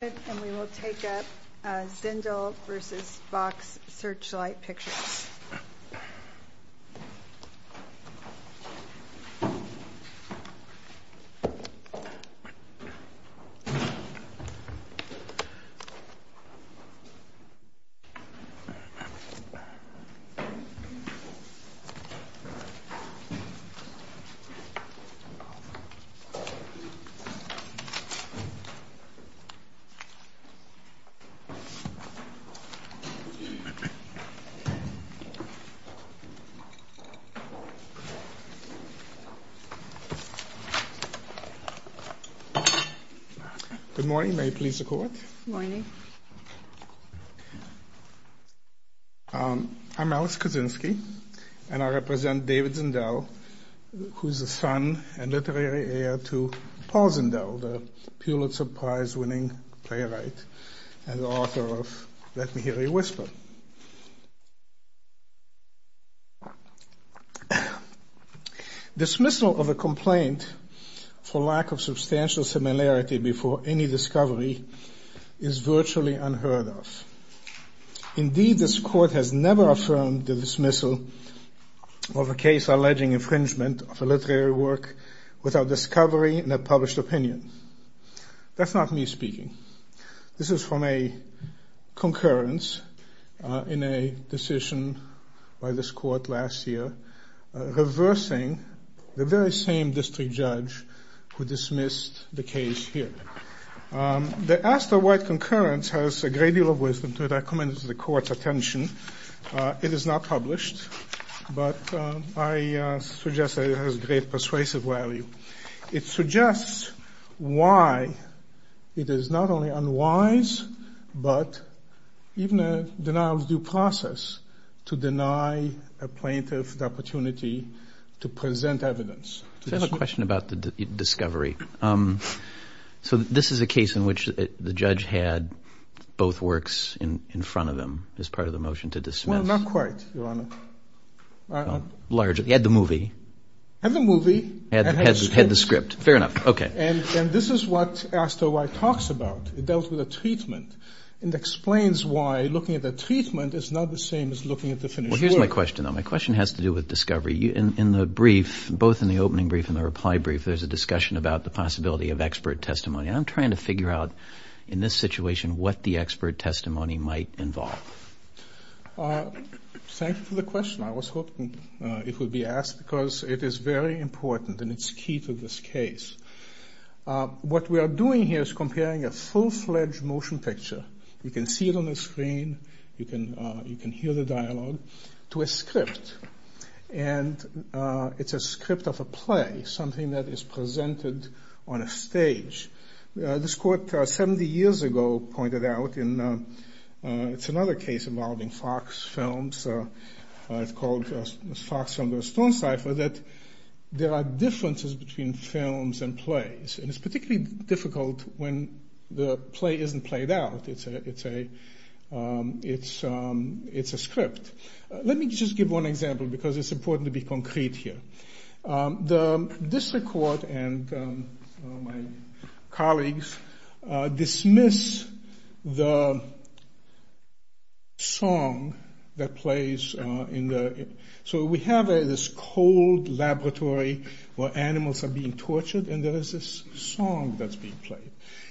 And we will take up Zindel v. Fox Searchlight Pictures. Good morning. May it please the Court. Good morning. I'm Alex Kaczynski and I represent David Zindel, who is the son and literary heir to Paul Zindel, the Pulitzer Prize winning playwright and author of Let Me Hear You Whisper. Dismissal of a complaint for lack of substantial similarity before any discovery is virtually unheard of. Indeed, this Court has never affirmed the dismissal of a case alleging infringement of a literary work without discovery and a published opinion. That's not me speaking. This is from a concurrence in a decision by this Court last year reversing the very same district judge who dismissed the case here. The Astor White concurrence has a great deal of wisdom to it. I commend it to the Court's attention. It is not published, but I suggest that it has great persuasive value. It suggests why it is not only unwise, but even a denial of due process to deny a plaintiff the opportunity to present evidence. I have a question about the discovery. So this is a case in which the judge had both works in front of him as part of the motion to dismiss. Well, not quite, Your Honor. Largely. He had the movie. Had the movie. Had the script. Fair enough. Okay. And this is what Astor White talks about. It dealt with a treatment and explains why looking at the treatment is not the same as looking at the finished work. Here's my question, though. My question has to do with discovery. In the brief, both in the opening brief and the reply brief, there's a discussion about the possibility of expert testimony. I'm trying to figure out in this situation what the expert testimony might involve. Thank you for the question. I was hoping it would be asked because it is very important and it's key to this case. What we are doing here is comparing a full-fledged motion picture, you can see it on the screen, you can hear the dialogue, to a script. And it's a script of a play, something that is presented on a stage. This court 70 years ago pointed out, it's another case involving Fox Films, it's called Fox Films vs. Stone Cipher, that there are differences between films and plays. And it's particularly difficult when the play isn't played out. It's a script. Let me just give one example because it's important to be concrete here. This court and my colleagues dismiss the song that plays. So we have this cold laboratory where animals are being tortured and there is this song that's being played.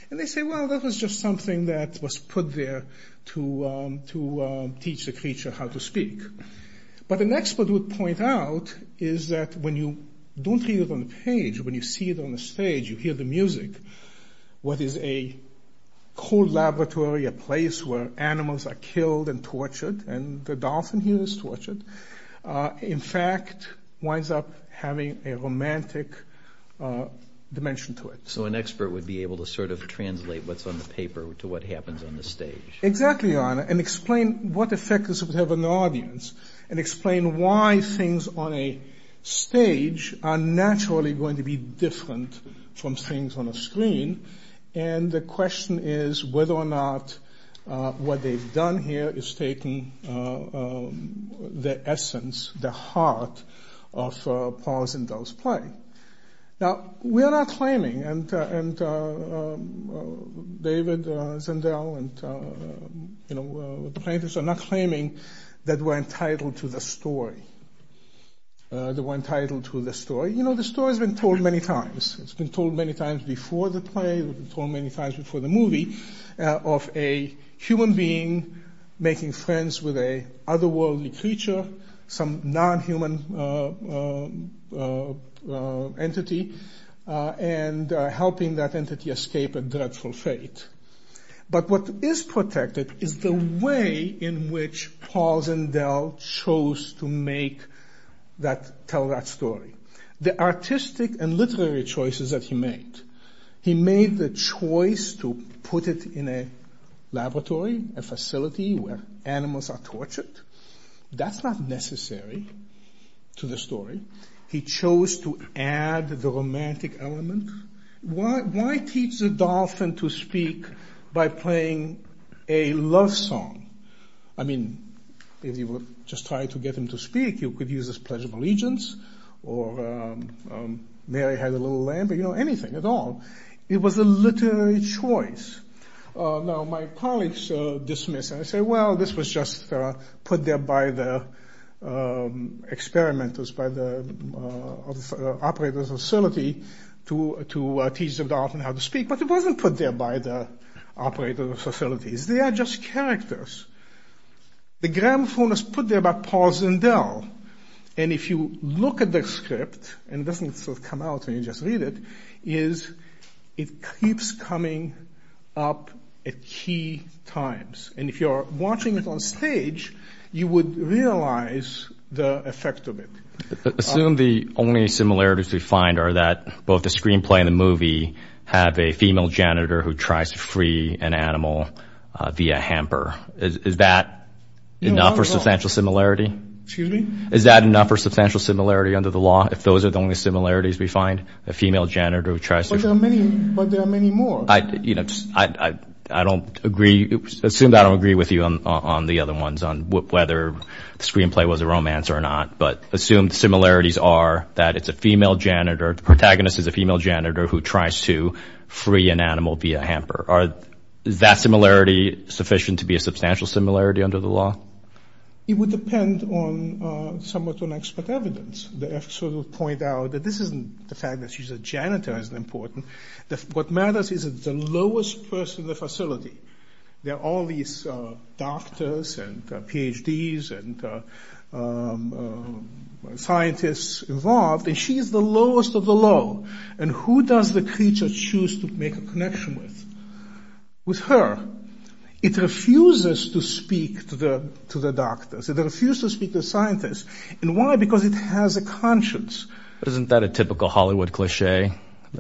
And they say, well, that was just something that was put there to teach the creature how to speak. But an expert would point out is that when you don't hear it on the page, when you see it on the stage, you hear the music. What is a cold laboratory, a place where animals are killed and tortured, and the dolphin here is tortured, in fact winds up having a romantic dimension to it. So an expert would be able to sort of translate what's on the paper to what happens on the stage. Exactly, and explain what effect this would have on the audience and explain why things on a stage are naturally going to be different from things on a screen. And the question is whether or not what they've done here is taking the essence, the heart of Paul Zendel's play. Now, we're not claiming, and David Zendel and, you know, the painters are not claiming that we're entitled to the story. That we're entitled to the story. You know, the story's been told many times. It's been told many times before the play. It's been told many times before the movie of a human being making friends with a otherworldly creature. Some non-human entity, and helping that entity escape a dreadful fate. But what is protected is the way in which Paul Zendel chose to make that, tell that story. The artistic and literary choices that he made. He made the choice to put it in a laboratory, a facility where animals are tortured. That's not necessary to the story. He chose to add the romantic element. Why teach the dolphin to speak by playing a love song? I mean, if you were just trying to get him to speak, you could use this Pledge of Allegiance, or Mary Had a Little Lamb. You know, anything at all. It was a literary choice. Now, my colleagues dismiss it. They say, well, this was just put there by the experimenters, by the operators of the facility to teach the dolphin how to speak. But it wasn't put there by the operators of the facility. They are just characters. The gramophone is put there by Paul Zendel. And if you look at the script, and it doesn't come out when you just read it, is it keeps coming up at key times. And if you are watching it on stage, you would realize the effect of it. Assume the only similarities we find are that both the screenplay and the movie have a female janitor who tries to free an animal via hamper. Is that enough for substantial similarity? Excuse me? Is that enough for substantial similarity under the law, if those are the only similarities we find? A female janitor who tries to free... But there are many more. I don't agree. Assume I don't agree with you on the other ones, on whether the screenplay was a romance or not. But assume the similarities are that it's a female janitor, the protagonist is a female janitor, who tries to free an animal via hamper. Is that similarity sufficient to be a substantial similarity under the law? It would depend somewhat on expert evidence. The expert would point out that this isn't the fact that she's a janitor that's important. What matters is it's the lowest person in the facility. There are all these doctors and PhDs and scientists involved, and she's the lowest of the low. And who does the creature choose to make a connection with? With her. It refuses to speak to the doctors. It refuses to speak to the scientists. And why? Because it has a conscience. Isn't that a typical Hollywood cliché?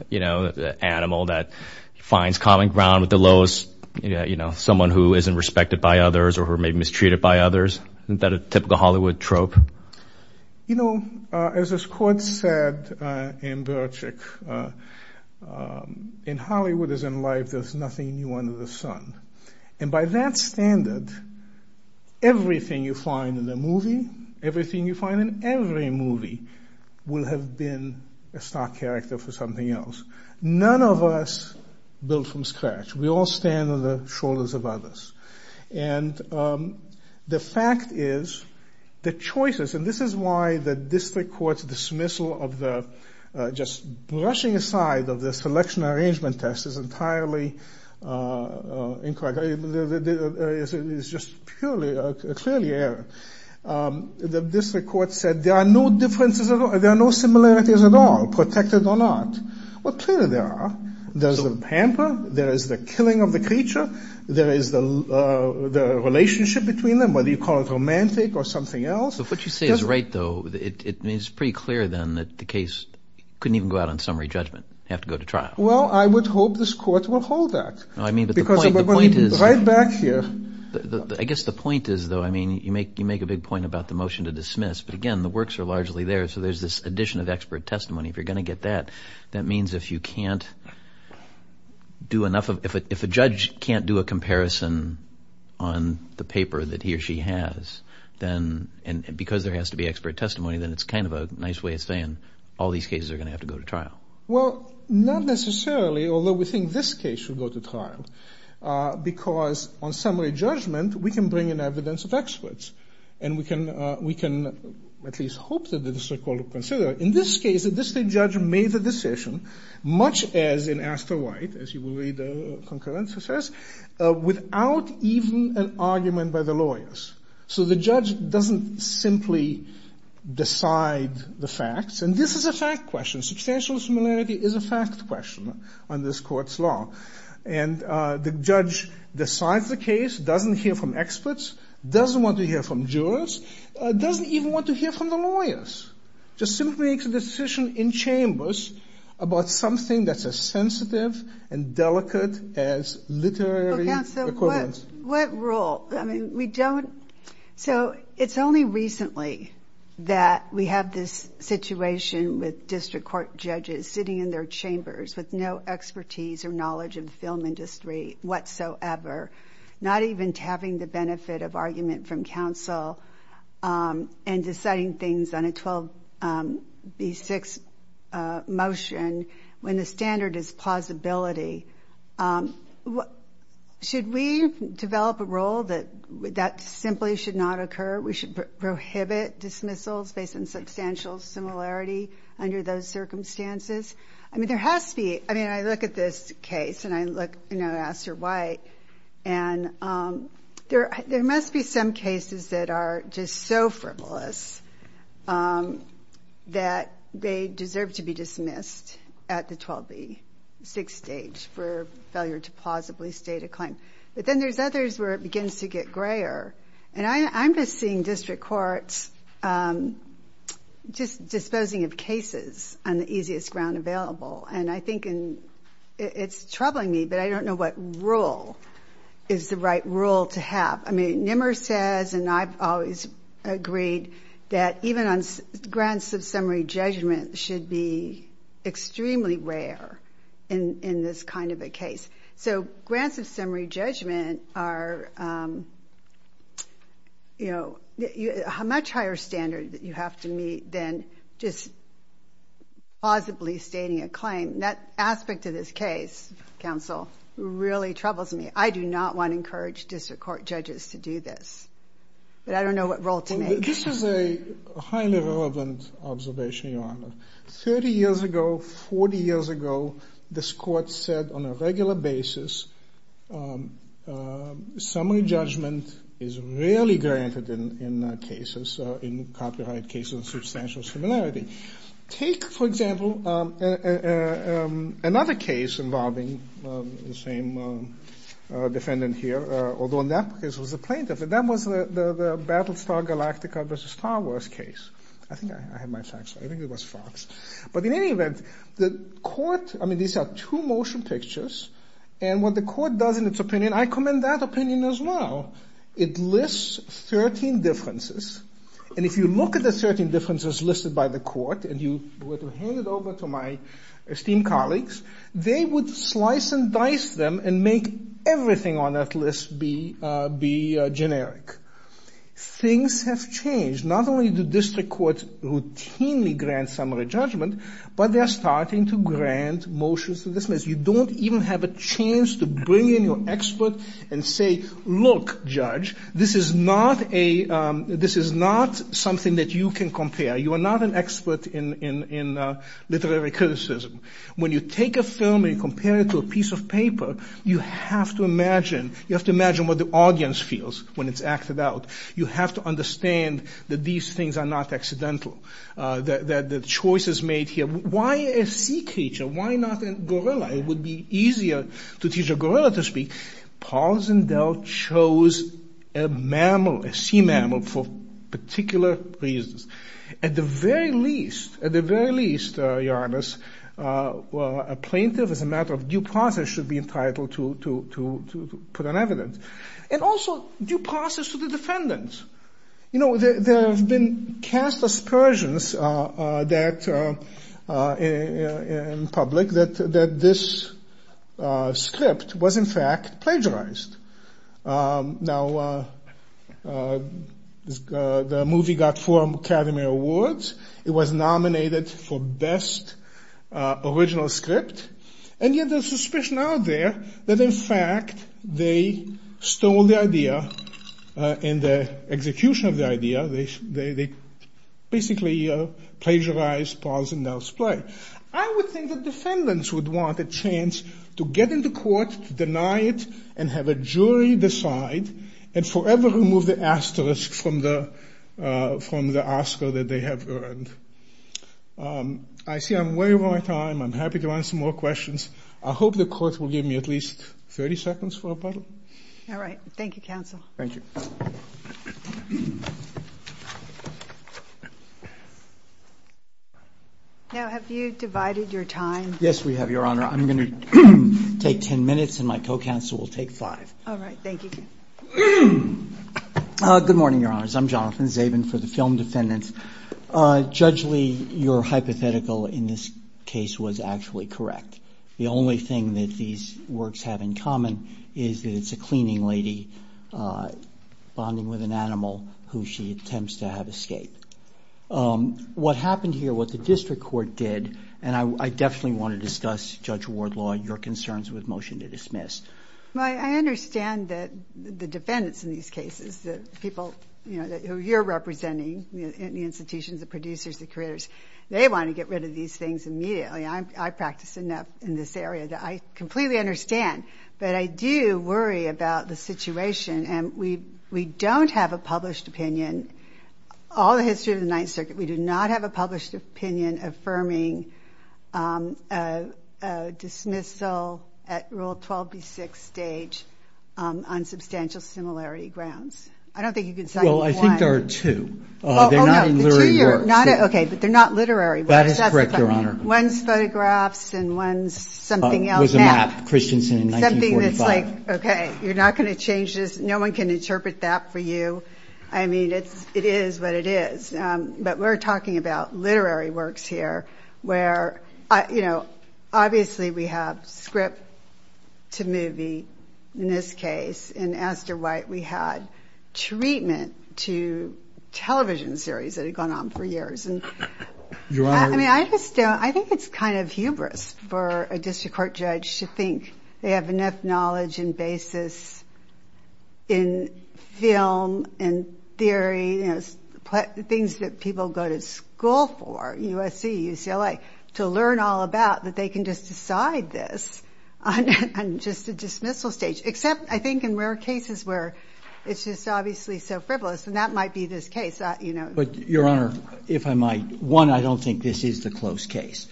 You know, the animal that finds common ground with the lowest, you know, someone who isn't respected by others or who may be mistreated by others? Isn't that a typical Hollywood trope? You know, as this quote said in Birchick, in Hollywood, as in life, there's nothing new under the sun. And by that standard, everything you find in the movie, everything you find in every movie, will have been a star character for something else. None of us build from scratch. We all stand on the shoulders of others. And the fact is, the choices, and this is why the district court's dismissal of the, just brushing aside of the selection arrangement test is entirely incorrect. It is just purely, clearly error. The district court said there are no differences at all, there are no similarities at all, protected or not. Well, clearly there are. There's the pamper. There is the killing of the creature. There is the relationship between them, whether you call it romantic or something else. But what you say is right, though. It's pretty clear, then, that the case couldn't even go out on summary judgment. Have to go to trial. Well, I would hope this court will hold that. I mean, but the point is... Right back here. I guess the point is, though, I mean, you make a big point about the motion to dismiss. But again, the works are largely there, so there's this addition of expert testimony. If you're going to get that, that means if you can't do enough of, if a judge can't do a comparison on the paper that he or she has, then, because there has to be expert testimony, then it's kind of a nice way of saying all these cases are going to have to go to trial. Well, not necessarily, although we think this case should go to trial. Because on summary judgment, we can bring in evidence of experts. And we can at least hope that the district court will consider. In this case, the district judge made the decision, much as in Astor White, as you will read the concurrence, without even an argument by the lawyers. So the judge doesn't simply decide the facts. And this is a fact question. Substantial similarity is a fact question on this court's law. And the judge decides the case, doesn't hear from experts, doesn't want to hear from jurors, doesn't even want to hear from the lawyers. Just simply makes a decision in chambers about something that's as sensitive and delicate as literary equivalence. What rule? I mean, we don't, so it's only recently that we have this situation with district court judges sitting in their chambers with no expertise or knowledge of the film industry whatsoever, not even having the benefit of argument from counsel and deciding things on a 12B6 motion when the standard is plausibility. Should we develop a rule that that simply should not occur? We should prohibit dismissals based on substantial similarity under those circumstances? I mean, there has to be. I mean, I look at this case, and I look at Astor White, and there must be some cases that are just so frivolous that they deserve to be dismissed at the 12B6 stage for failure to plausibly state a claim. But then there's others where it begins to get grayer. And I'm just seeing district courts just disposing of cases on the easiest ground available. And I think it's troubling me, but I don't know what rule is the right rule to have. I mean, Nimmer says, and I've always agreed, that even grants of summary judgment should be extremely rare in this kind of a case. So grants of summary judgment are a much higher standard that you have to meet than just plausibly stating a claim. That aspect of this case, counsel, really troubles me. I do not want to encourage district court judges to do this. But I don't know what role to make. 30 years ago, 40 years ago, this court said on a regular basis, summary judgment is rarely granted in cases, in copyright cases of substantial similarity. Take, for example, another case involving the same defendant here, although in that case it was a plaintiff, and that was the Battlestar Galactica versus Star Wars case. I think I had my facts right. I think it was Fox. But in any event, the court, I mean, these are two motion pictures. And what the court does in its opinion, I commend that opinion as well, it lists 13 differences. And if you look at the 13 differences listed by the court, and you were to hand it over to my esteemed colleagues, they would slice and dice them and make everything on that list be generic. Things have changed. Not only do district courts routinely grant summary judgment, but they are starting to grant motions to dismiss. You don't even have a chance to bring in your expert and say, look, judge, this is not a, this is not something that you can compare. You are not an expert in literary criticism. When you take a film and you compare it to a piece of paper, you have to imagine, you have to imagine what the audience feels when it's acted out. You have to understand that these things are not accidental, that the choice is made here. Why a sea creature? Why not a gorilla? It would be easier to teach a gorilla to speak. Paul Zendel chose a mammal, a sea mammal, for particular reasons. At the very least, at the very least, Your Honor, a plaintiff, as a matter of due process, should be entitled to put on evidence. And also due process to the defendants. You know, there have been cast aspersions in public that this script was in fact plagiarized. Now, the movie got four Academy Awards. It was nominated for Best Original Script. And yet there's suspicion out there that in fact they stole the idea and the execution of the idea. They basically plagiarized Paul Zendel's play. I would think that defendants would want a chance to get in the court, deny it, and have a jury decide and forever remove the asterisk from the Oscar that they have earned. I see I'm way over my time. I'm happy to answer more questions. I hope the court will give me at least 30 seconds for a bottle. All right. Thank you, counsel. Thank you. Now, have you divided your time? Yes, we have, Your Honor. I'm going to take 10 minutes and my co-counsel will take five. All right. Thank you. Good morning, Your Honors. I'm Jonathan Zabin for the film defendants. Judge Lee, your hypothetical in this case was actually correct. The only thing that these works have in common is that it's a cleaning lady bonding with an animal who she attempts to have escape. What happened here, what the district court did, and I definitely want to discuss, Judge Wardlaw, your concerns with motion to dismiss. Well, I understand that the defendants in these cases, the people, you know, who you're representing, the institutions, the producers, the creators, they want to get rid of these things immediately. I practice enough in this area that I completely understand. But I do worry about the situation, and we don't have a published opinion. All the history of the Ninth Circuit, we do not have a published opinion affirming dismissal at Rule 12B6 stage on substantial similarity grounds. I don't think you can cite one. Well, I think there are two. They're not literary works. Okay, but they're not literary works. That is correct, Your Honor. One's photographs and one's something else. It was a map, Christensen in 1945. Something that's like, okay, you're not going to change this. No one can interpret that for you. I mean, it is what it is. But we're talking about literary works here where, you know, obviously we have script to movie in this case. In Esther White, we had treatment to television series that had gone on for years. I mean, I just don't – I think it's kind of hubris for a district court judge to think they have enough knowledge and basis in film and theory, you know, things that people go to school for, USC, UCLA, to learn all about that they can just decide this on just a dismissal stage, except I think in rare cases where it's just obviously so frivolous, and that might be this case. But, Your Honor, if I might, one, I don't think this is the close case.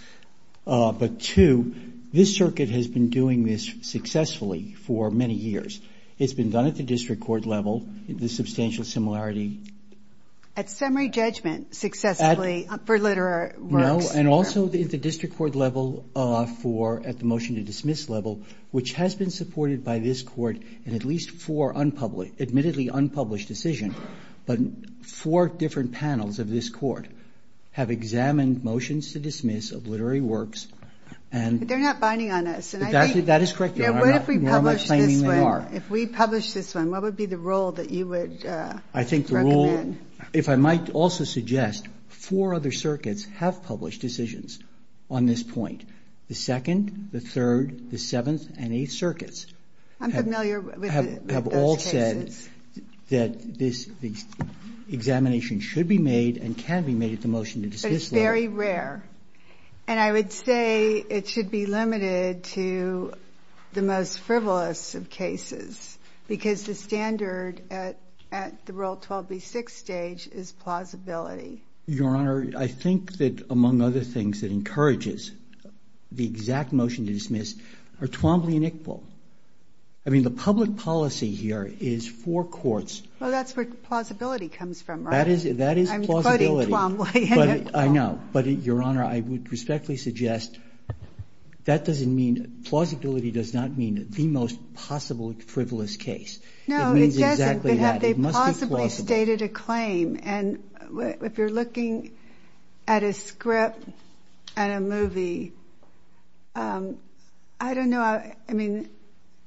But, two, this circuit has been doing this successfully for many years. It's been done at the district court level, the substantial similarity. At summary judgment successfully for literary works? No, and also at the district court level for – at the motion to dismiss level, which has been supported by this court in at least four admittedly unpublished decisions. But four different panels of this court have examined motions to dismiss of literary works. But they're not binding on us. That is correct, Your Honor. What if we publish this one? No, I'm not claiming they are. If we publish this one, what would be the rule that you would recommend? I think the rule – if I might also suggest four other circuits have published decisions on this point. The second, the third, the seventh, and eighth circuits have all said that this examination should be made and can be made at the motion to dismiss level. But it's very rare. And I would say it should be limited to the most frivolous of cases because the standard at the Rule 12B6 stage is plausibility. Your Honor, I think that among other things that encourages the exact motion to dismiss are Twombly and Iqbal. I mean, the public policy here is for courts – Well, that's where plausibility comes from, right? That is plausibility. I'm quoting Twombly and Iqbal. I know. But, Your Honor, I would respectfully suggest that doesn't mean – plausibility does not mean the most possible frivolous case. No, it doesn't. It means exactly that. It must be plausible. But have they possibly stated a claim? And if you're looking at a script at a movie, I don't know – I mean,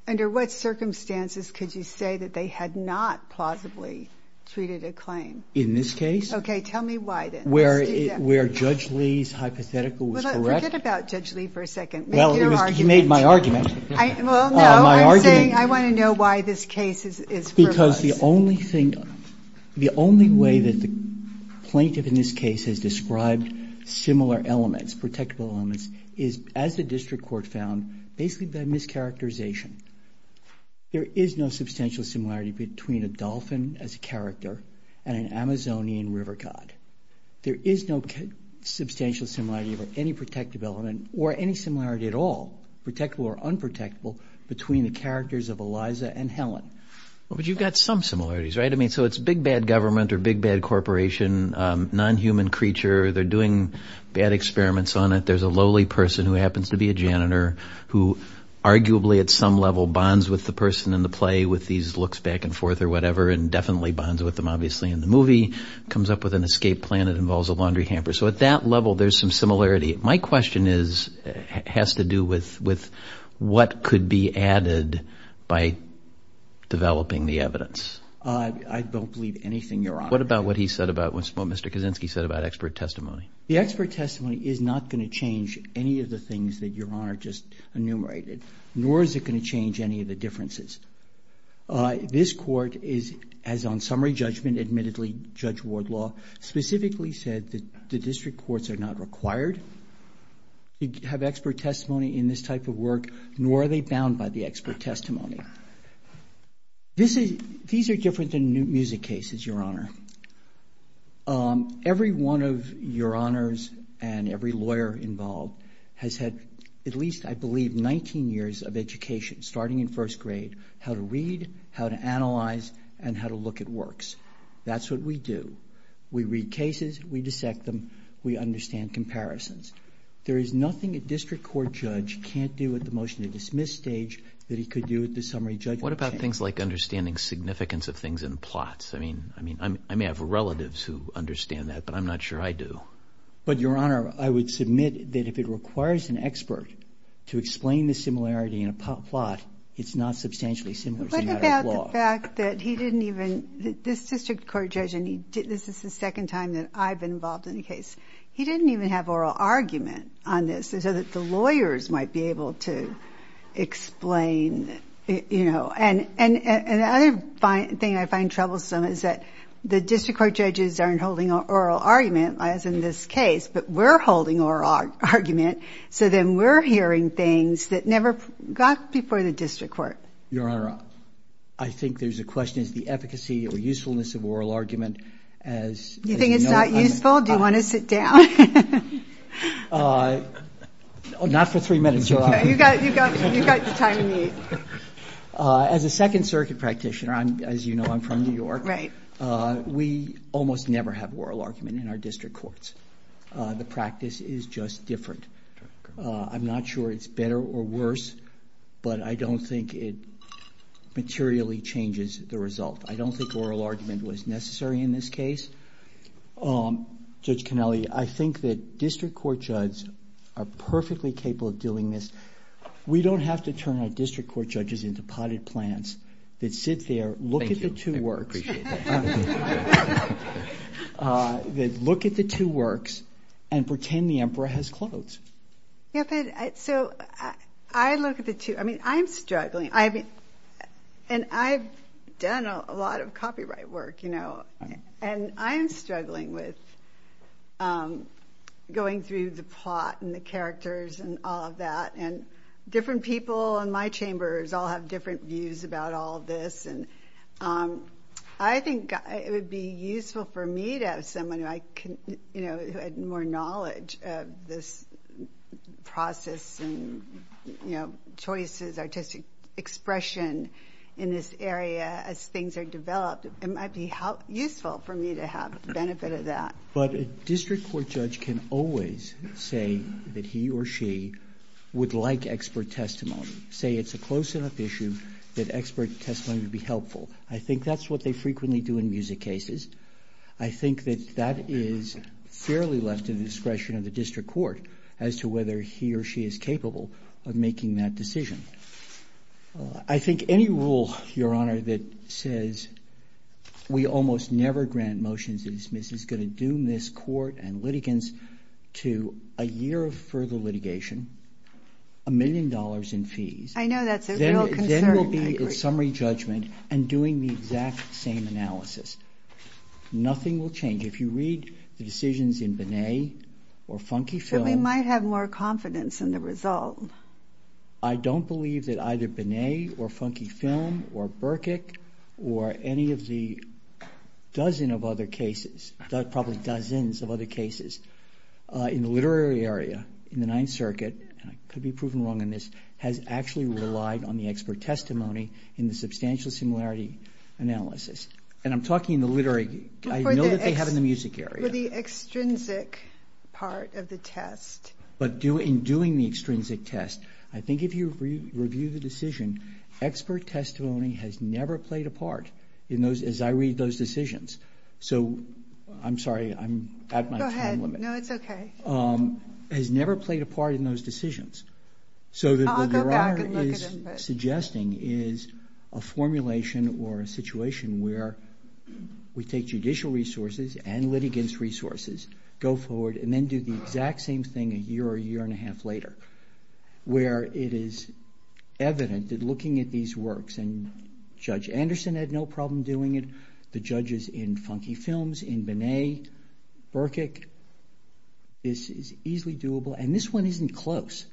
under what circumstances could you say that they had not plausibly treated a claim? In this case? Okay. Tell me why, then. Where Judge Lee's hypothetical was correct? Forget about Judge Lee for a second. Make your argument. Well, he made my argument. Well, no. I'm saying I want to know why this case is frivolous. Because the only thing – the only way that the plaintiff in this case has described similar elements, protectable elements, is as the district court found, basically by mischaracterization. There is no substantial similarity between a dolphin as a character and an Amazonian river cod. There is no substantial similarity of any protective element or any similarity at all, protectable or unprotectable, between the characters of Eliza and Helen. But you've got some similarities, right? I mean, so it's big bad government or big bad corporation, non-human creature. They're doing bad experiments on it. There's a lowly person who happens to be a janitor who arguably at some level bonds with the person in the play with these looks back and forth or whatever and definitely bonds with them obviously in the movie, comes up with an escape plan that involves a laundry hamper. So at that level, there's some similarity. My question has to do with what could be added by developing the evidence. I don't believe anything, Your Honor. What about what he said about – what Mr. Kaczynski said about expert testimony? The expert testimony is not going to change any of the things that Your Honor just enumerated, nor is it going to change any of the differences. This Court has on summary judgment admittedly, Judge Wardlaw, specifically said that the district courts are not required to have expert testimony in this type of work, nor are they bound by the expert testimony. These are different than music cases, Your Honor. Every one of Your Honors and every lawyer involved has had at least, I believe, 19 years of education starting in first grade, how to read, how to analyze, and how to look at works. That's what we do. We read cases. We dissect them. We understand comparisons. There is nothing a district court judge can't do at the motion to dismiss stage that he could do at the summary judgment stage. What about things like understanding significance of things in plots? I mean, I may have relatives who understand that, but I'm not sure I do. But Your Honor, I would submit that if it requires an expert to explain the similarity in a plot, it's not substantially similar as a matter of law. What about the fact that he didn't even, this district court judge, and this is the second time that I've been involved in a case, he didn't even have oral argument on this, so that the lawyers might be able to explain, you know. And the other thing I find troublesome is that the district court judges aren't holding oral argument, as in this case, but we're holding oral argument, so then we're hearing things that never got before the district court. Your Honor, I think there's a question as to the efficacy or usefulness of oral argument as... Do you think it's not useful? Do you want to sit down? Not for three minutes, Your Honor. You've got the time you need. As a Second Circuit practitioner, as you know, I'm from New York. Right. We almost never have oral argument in our district courts. The practice is just different. I'm not sure it's better or worse, but I don't think it materially changes the result. I don't think oral argument was necessary in this case. Judge Canelli, I think that district court judges are perfectly capable of doing this. We don't have to turn our district court judges into potted plants that sit there, look at the two works... Thank you. I appreciate that. ...that look at the two works and pretend the emperor has clothes. Yeah, but so I look at the two... I mean, I'm struggling. I mean, and I've done a lot of copyright work, you know, and I'm struggling with going through the plot and the characters and all of that, and different people in my chambers all have different views about all of this, and I think it would be useful for me to have someone who I can, you know, who had more knowledge of this process and, you know, choices, artistic expression in this area as things are developed. It might be useful for me to have the benefit of that. But a district court judge can always say that he or she would like expert testimony, say it's a close enough issue that expert testimony would be helpful. I think that's what they frequently do in music cases. I think that that is fairly left to the discretion of the district court as to whether he or she is capable of making that decision. I think any rule, Your Honor, that says we almost never grant motions to dismiss is going to doom this court and litigants to a year of further litigation, a million dollars in fees. I know that's a real concern. Then we'll be in summary judgment and doing the exact same analysis. Nothing will change. If you read the decisions in Binet or Funky Film. Then we might have more confidence in the result. I don't believe that either Binet or Funky Film or Berkik or any of the dozen of other cases, probably dozens of other cases in the literary area in the Ninth Circuit, and I could be proven wrong on this, has actually relied on the expert testimony in the substantial similarity analysis. And I'm talking in the literary. I know that they have in the music area. For the extrinsic part of the test. But in doing the extrinsic test, I think if you review the decision, expert testimony has never played a part as I read those decisions. So, I'm sorry, I'm at my time limit. Go ahead. No, it's okay. Has never played a part in those decisions. I'll go back and look at it. So, what the writer is suggesting is a formulation or a situation where we take judicial resources and litigants resources, go forward and then do the exact same thing a year or a year and a half later. Where it is evident that looking at these works and Judge Anderson had no problem doing it, the judges in Funky Films, in Binet, Berkik, this is easily doable. And this one isn't close.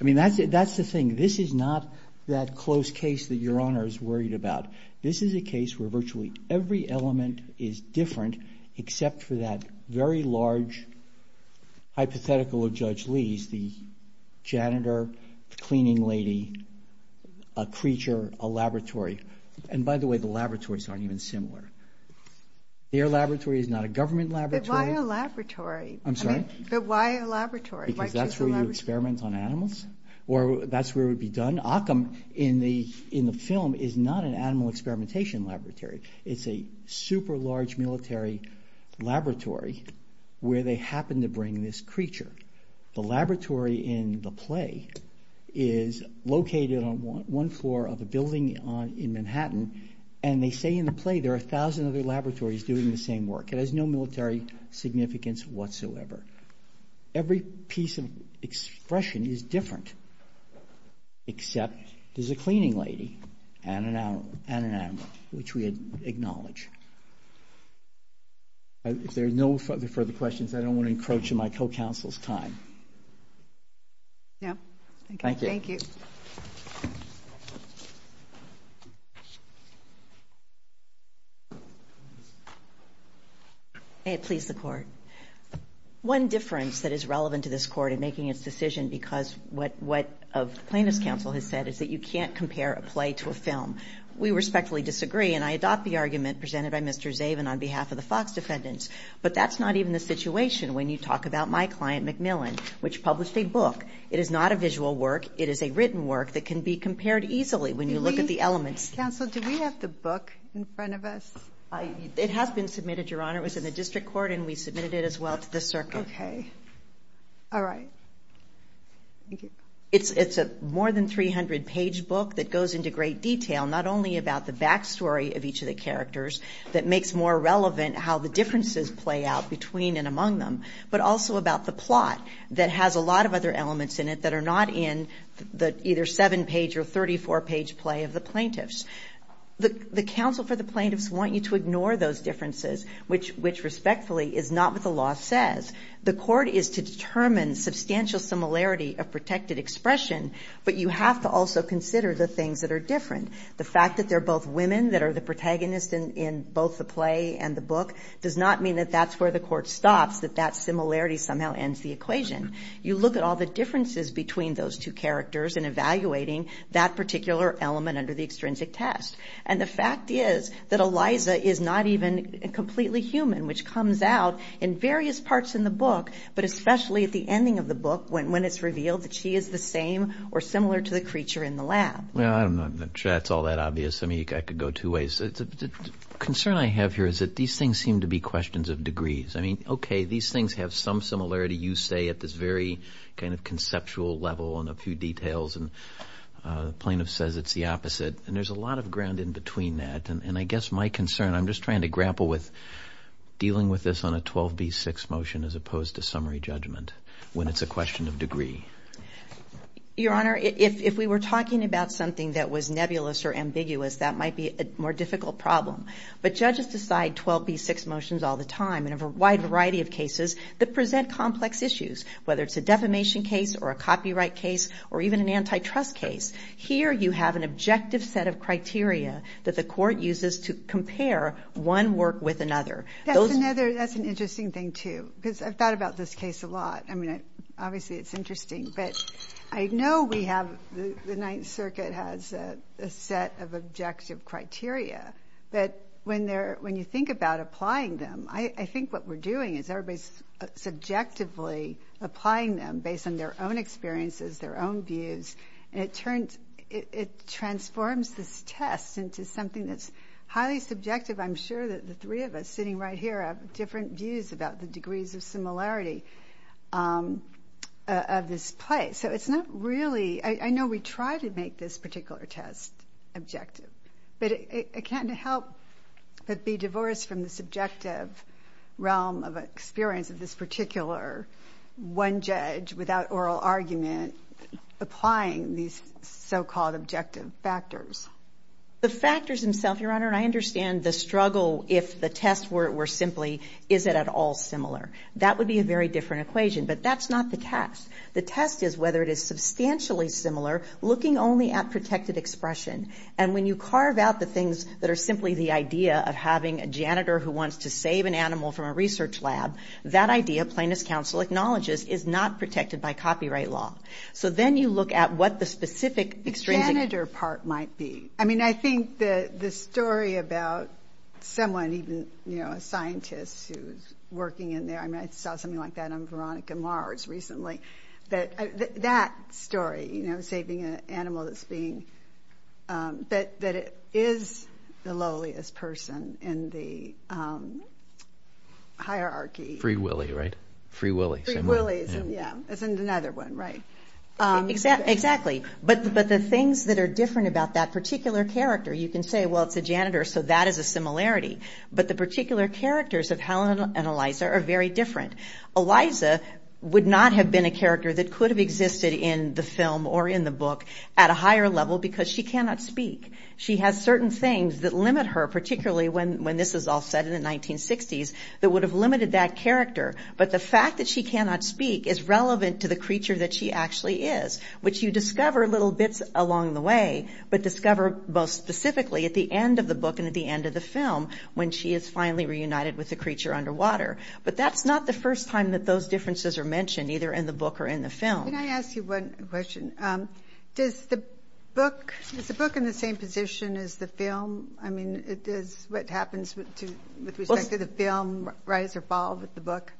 I mean, that's the thing. This is not that close case that Your Honor is worried about. This is a case where virtually every element is different except for that very large hypothetical of Judge Lee's, the janitor, the cleaning lady, a creature, a laboratory. And, by the way, the laboratories aren't even similar. Their laboratory is not a government laboratory. But why a laboratory? I'm sorry? But why a laboratory? Because that's where you experiment on animals or that's where it would be done. Occam, in the film, is not an animal experimentation laboratory. It's a super large military laboratory where they happen to bring this creature. The laboratory in the play is located on one floor of a building in Manhattan. And they say in the play there are a thousand other laboratories doing the same work. It has no military significance whatsoever. Every piece of expression is different except there's a cleaning lady and an animal, which we acknowledge. If there are no further questions, I don't want to encroach on my co-counsel's time. No. Thank you. Thank you. May it please the Court. One difference that is relevant to this Court in making its decision because what the Plaintiffs' Counsel has said is that you can't compare a play to a film. We respectfully disagree. And I adopt the argument presented by Mr. Zaven on behalf of the Fox defendants. But that's not even the situation when you talk about my client, MacMillan, which published a book. It is not a visual work. It is a written work that can be compared easily when you look at the elements. Counsel, do we have the book in front of us? It has been submitted, Your Honor. It was in the district court and we submitted it as well to the circuit. Okay. All right. Thank you. It's a more than 300-page book that goes into great detail, not only about the backstory of each of the characters that makes more relevant how the differences play out between and among them, but also about the plot that has a lot of other elements in it that are not in the either seven-page or 34-page play of the Plaintiffs'. The counsel for the Plaintiffs want you to ignore those differences, which respectfully is not what the law says. The court is to determine substantial similarity of protected expression, but you have to also consider the things that are different. The fact that they're both women that are the protagonists in both the play and the book does not mean that that's where the court stops, that that similarity somehow ends the equation. You look at all the differences between those two characters and evaluating that particular element under the extrinsic test. And the fact is that Eliza is not even completely human, which comes out in various parts in the book, but especially at the ending of the book when it's revealed that she is the same or similar to the creature in the lab. Well, I'm not sure that's all that obvious. I mean, I could go two ways. The concern I have here is that these things seem to be questions of degrees. I mean, okay, these things have some similarity, you say, at this very kind of conceptual level and a few details, and the Plaintiff says it's the opposite. And there's a lot of ground in between that. And I guess my concern, I'm just trying to grapple with dealing with this on a 12b6 motion as opposed to summary judgment when it's a question of degree. Your Honor, if we were talking about something that was nebulous or ambiguous, that might be a more difficult problem. But judges decide 12b6 motions all the time in a wide variety of cases that present complex issues, whether it's a defamation case or a copyright case or even an antitrust case. Here you have an objective set of criteria that the court uses to compare one work with another. That's an interesting thing, too, because I've thought about this case a lot. I mean, obviously, it's interesting. But I know we have the Ninth Circuit has a set of objective criteria. But when you think about applying them, I think what we're doing is everybody's subjectively applying them based on their own experiences, their own views, and it transforms this test into something that's highly subjective. I'm sure that the three of us sitting right here have different views about the degrees of similarity of this play. So it's not really—I know we try to make this particular test objective, but it can't help but be divorced from the subjective realm of experience of this particular one judge without oral argument applying these so-called objective factors. The factors themselves, Your Honor, and I understand the struggle if the test were simply is it at all similar. That would be a very different equation. But that's not the test. The test is whether it is substantially similar, looking only at protected expression. And when you carve out the things that are simply the idea of having a janitor who wants to save an animal from a research lab, that idea, Plaintiff's counsel acknowledges, is not protected by copyright law. So then you look at what the specific extrinsic— I mean, I think the story about someone, even, you know, a scientist who's working in there— I mean, I saw something like that on Veronica Mars recently. That story, you know, saving an animal that's being— that it is the lowliest person in the hierarchy. Free Willy, right? Free Willy. Free Willy, yeah. As in another one, right? Exactly. But the things that are different about that particular character, you can say, well, it's a janitor, so that is a similarity. But the particular characters of Helen and Eliza are very different. Eliza would not have been a character that could have existed in the film or in the book at a higher level because she cannot speak. She has certain things that limit her, particularly when this is all set in the 1960s, that would have limited that character. But the fact that she cannot speak is relevant to the creature that she actually is, which you discover little bits along the way, but discover most specifically at the end of the book and at the end of the film when she is finally reunited with the creature underwater. But that's not the first time that those differences are mentioned, either in the book or in the film. Can I ask you one question? Does the book—is the book in the same position as the film? I mean, does what happens with respect to the film rise or fall with the book?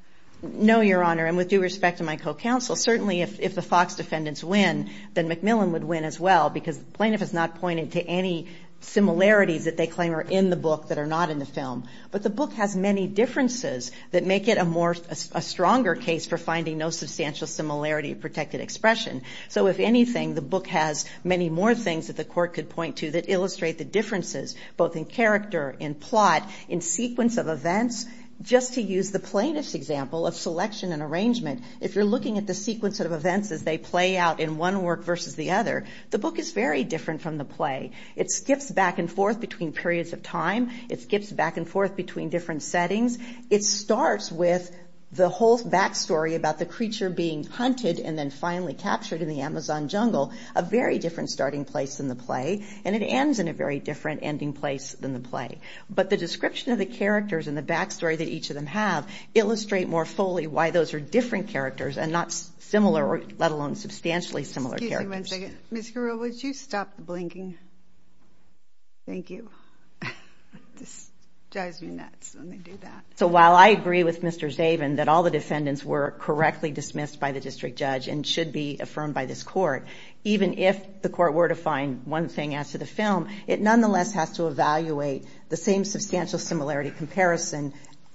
No, Your Honor, and with due respect to my co-counsel, certainly if the Fox defendants win, then McMillan would win as well because the plaintiff has not pointed to any similarities that they claim are in the book that are not in the film. But the book has many differences that make it a stronger case for finding no substantial similarity of protected expression. So if anything, the book has many more things that the court could point to that illustrate the differences, both in character, in plot, in sequence of events. Just to use the plaintiff's example of selection and arrangement, if you're looking at the sequence of events as they play out in one work versus the other, the book is very different from the play. It skips back and forth between periods of time. It skips back and forth between different settings. It starts with the whole backstory about the creature being hunted and then finally captured in the Amazon jungle, a very different starting place than the play, and it ends in a very different ending place than the play. But the description of the characters and the backstory that each of them have illustrate more fully why those are different characters and not similar, let alone substantially similar characters. Excuse me one second. Ms. Carrillo, would you stop blinking? Thank you. This drives me nuts when they do that. So while I agree with Mr. Zaven that all the defendants were correctly dismissed by the district judge and should be affirmed by this court, even if the court were to find one thing as to the film, it nonetheless has to evaluate the same substantial similarity comparison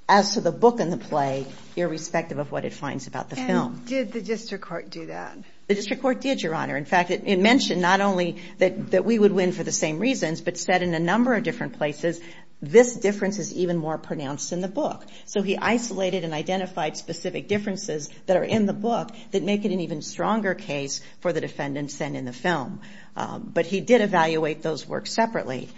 as to the book and the play, irrespective of what it finds about the film. And did the district court do that? The district court did, Your Honor. In fact, it mentioned not only that we would win for the same reasons, but said in a number of different places, this difference is even more pronounced in the book. So he isolated and identified specific differences that are in the book that make it an even stronger case for the defendants than in the film. But he did evaluate those works separately.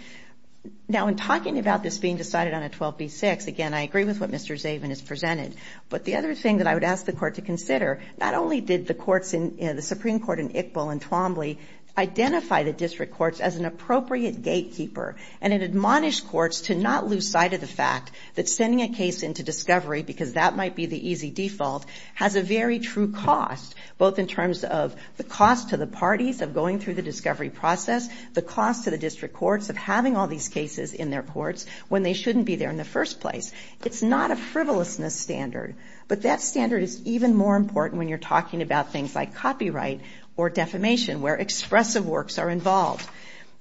Now, in talking about this being decided on a 12B6, again, I agree with what Mr. Zaven has presented. But the other thing that I would ask the court to consider, not only did the courts in the Supreme Court in Iqbal and Twombly identify the district courts as an appropriate gatekeeper and it admonished courts to not lose sight of the fact that sending a case into discovery, because that might be the easy default, has a very true cost, both in terms of the cost to the parties of going through the discovery process, the cost to the district courts of having all these cases in their courts when they shouldn't be there in the first place. It's not a frivolousness standard, but that standard is even more important when you're talking about things like copyright or defamation, where expressive works are involved.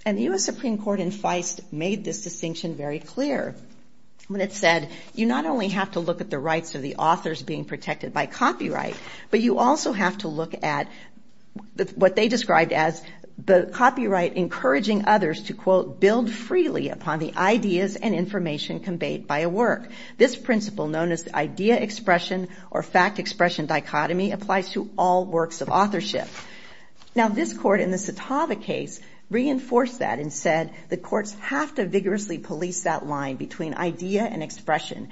And the U.S. Supreme Court in Feist made this distinction very clear when it said you not only have to look at the rights of the authors being protected by copyright, but you also have to look at what they described as the copyright encouraging others to, quote, build freely upon the ideas and information conveyed by a work. This principle, known as the idea expression or fact expression dichotomy, applies to all works of authorship. Now, this court in the Satava case reinforced that and said the courts have to vigorously police that line between idea and expression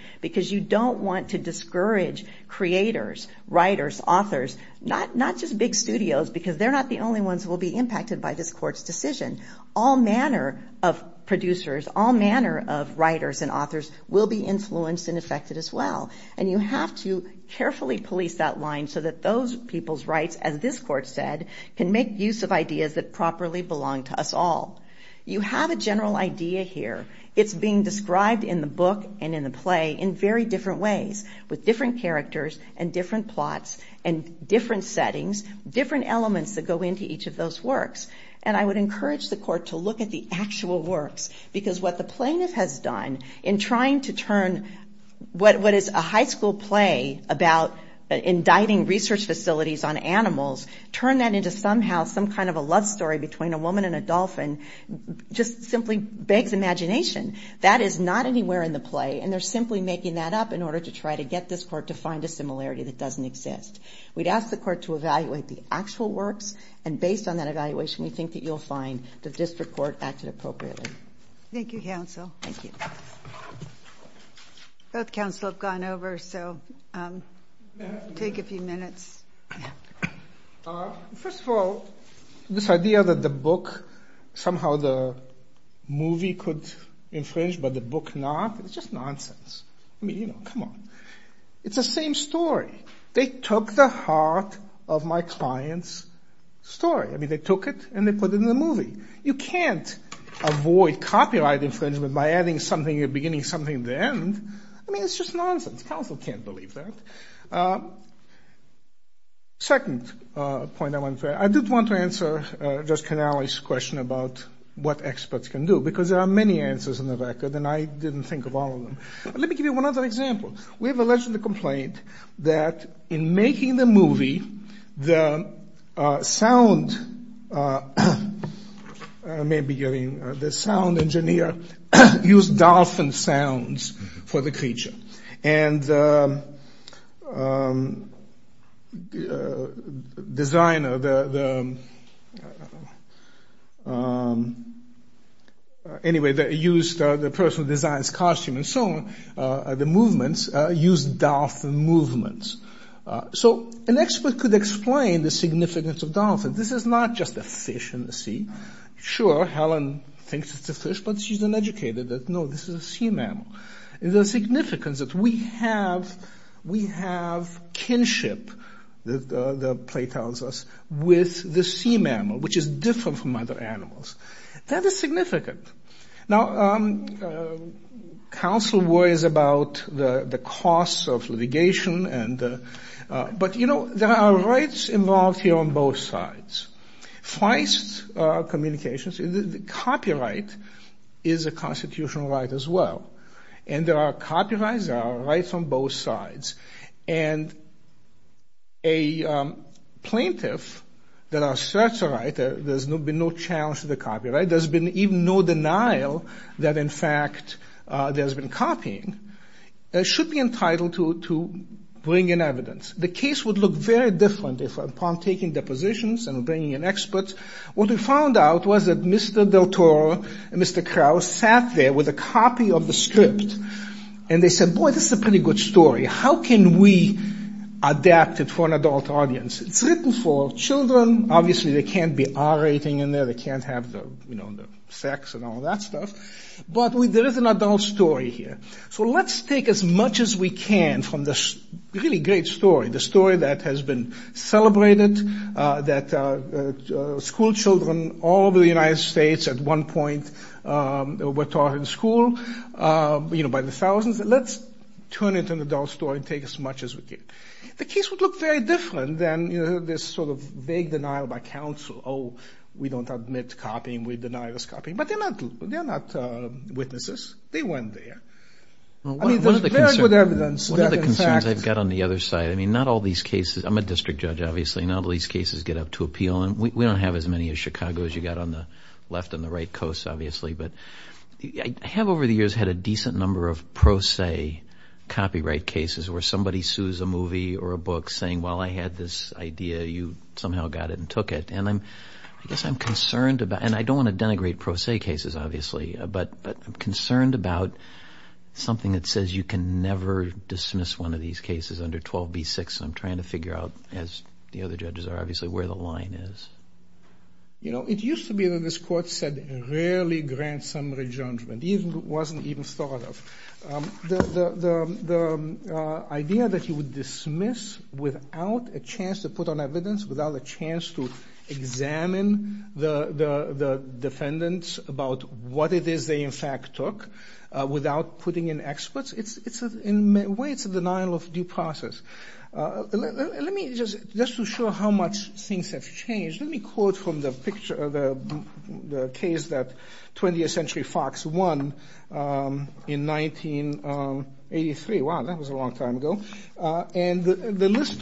not just big studios because they're not the only ones who will be impacted by this court's decision. All manner of producers, all manner of writers and authors will be influenced and affected as well. And you have to carefully police that line so that those people's rights, as this court said, can make use of ideas that properly belong to us all. You have a general idea here. It's being described in the book and in the play in very different ways with different characters and different plots and different settings, different elements that go into each of those works. And I would encourage the court to look at the actual works because what the plaintiff has done in trying to turn what is a high school play about indicting research facilities on animals, turn that into somehow some kind of a love story between a woman and a dolphin just simply begs imagination. That is not anywhere in the play, and they're simply making that up in order to try to get this court to find a similarity that doesn't exist. We'd ask the court to evaluate the actual works, and based on that evaluation we think that you'll find the district court acted appropriately. Thank you, counsel. Thank you. Both counsel have gone over, so take a few minutes. First of all, this idea that the book, somehow the movie could infringe but the book not, it's just nonsense. I mean, you know, come on. It's the same story. They took the heart of my client's story. I mean, they took it and they put it in the movie. You can't avoid copyright infringement by adding something or beginning something at the end. I mean, it's just nonsense. Counsel can't believe that. Second point I want to make, I did want to answer Judge Canale's question about what experts can do Let me give you one other example. We have a legislative complaint that in making the movie, the sound engineer used dolphin sounds for the creature. And the designer, anyway, used the person who designs costumes and so on, the movements, used dolphin movements. So an expert could explain the significance of dolphins. This is not just a fish in the sea. Sure, Helen thinks it's a fish, but she's uneducated. No, this is a sea mammal. The significance is we have kinship, the play tells us, with the sea mammal, which is different from other animals. That is significant. Now, counsel worries about the costs of litigation, but, you know, there are rights involved here on both sides. Feist communications, copyright is a constitutional right as well. And there are copyrights, there are rights on both sides. And a plaintiff that asserts a right, there's been no challenge to the copyright, there's been even no denial that, in fact, there's been copying, should be entitled to bring in evidence. The case would look very different upon taking depositions and bringing in experts. What we found out was that Mr. Del Toro and Mr. Kraus sat there with a copy of the script, and they said, boy, this is a pretty good story. How can we adapt it for an adult audience? It's written for children. Obviously, they can't be R-rating in there. They can't have the sex and all that stuff. But there is an adult story here. So let's take as much as we can from this really great story, the story that has been celebrated, that schoolchildren all over the United States at one point were taught in school, you know, by the thousands. Let's turn it into an adult story and take as much as we can. The case would look very different than this sort of vague denial by counsel, oh, we don't admit copying, we deny this copying. But they're not witnesses. They weren't there. I mean, they're paired with evidence. One of the concerns I've got on the other side, I mean, not all these cases, I'm a district judge, obviously, not all these cases get up to appeal. We don't have as many as Chicago's. You've got on the left and the right coast, obviously. But I have over the years had a decent number of pro se copyright cases where somebody sues a movie or a book saying, well, I had this idea, you somehow got it and took it. And I guess I'm concerned about, and I don't want to denigrate pro se cases, obviously, but I'm concerned about something that says you can never dismiss one of these cases under 12b-6. I'm trying to figure out, as the other judges are, obviously, where the line is. You know, it used to be that this court said rarely grant summary judgment. It wasn't even thought of. The idea that you would dismiss without a chance to put on evidence, without a chance to examine the defendants about what it is they in fact took, without putting in experts, in a way it's a denial of due process. Just to show how much things have changed, let me quote from the case that 20th Century Fox won in 1983. Wow, that was a long time ago. And the list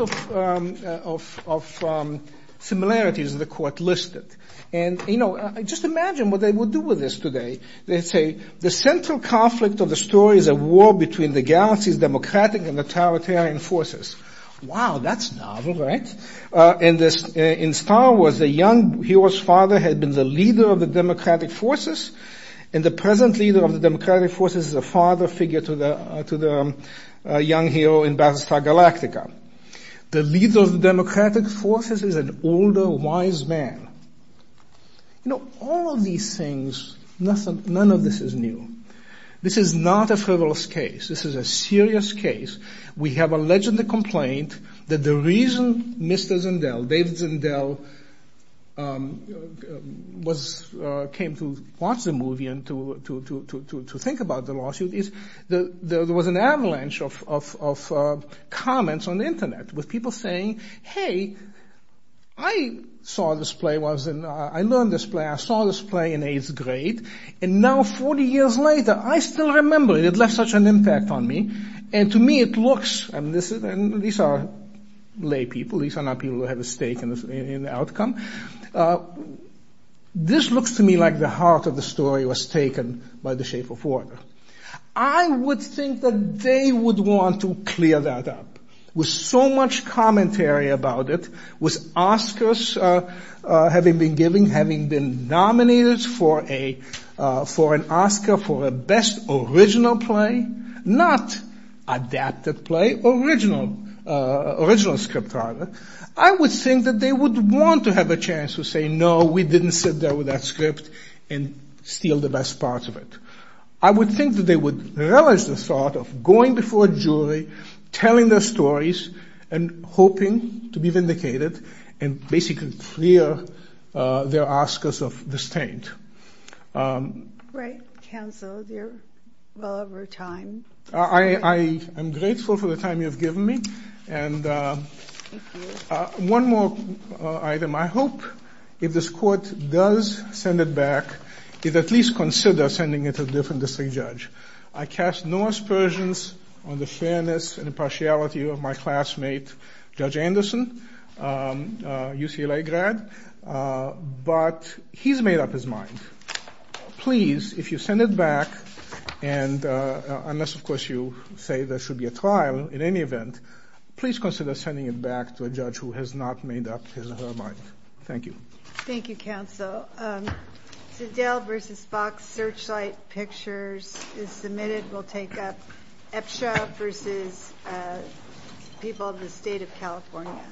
of similarities the court listed. And, you know, just imagine what they would do with this today. They'd say, the central conflict of the story is a war between the galaxy's democratic and totalitarian forces. Wow, that's novel, right? In Star Wars, the young hero's father had been the leader of the democratic forces, and the present leader of the democratic forces is a father figure to the young hero in Battlestar Galactica. The leader of the democratic forces is an older, wise man. You know, all of these things, none of this is new. This is not a frivolous case. This is a serious case. We have alleged the complaint that the reason Mr. Zendel, David Zendel, came to watch the movie and to think about the lawsuit is there was an avalanche of comments on the internet with people saying, hey, I saw this play, I learned this play, I saw this play in eighth grade, and now 40 years later I still remember it. It left such an impact on me. And to me it looks, and these are lay people, these are not people who have a stake in the outcome, this looks to me like the heart of the story was taken by the shape of water. I would think that they would want to clear that up with so much commentary about it, with Oscars having been given, having been nominated for an Oscar for a best original play, not adapted play, original script rather, I would think that they would want to have a chance to say, no, we didn't sit there with that script and steal the best parts of it. I would think that they would relish the thought of going before a jury, telling their stories, and hoping to be vindicated and basically clear their Oscars of disdain. Great counsel, you're well over time. I am grateful for the time you have given me. Thank you. One more item. I hope if this court does send it back, it at least consider sending it to a different district judge. I cast no aspersions on the fairness and impartiality of my classmate, Judge Anderson, UCLA grad, but he's made up his mind. Please, if you send it back, and unless of course you say there should be a trial in any event, please consider sending it back to a judge who has not made up his or her mind. Thank you. Thank you, counsel. Zedell v. Fox Searchlight Pictures is submitted. We'll take up EPSHA v. People of the State of California.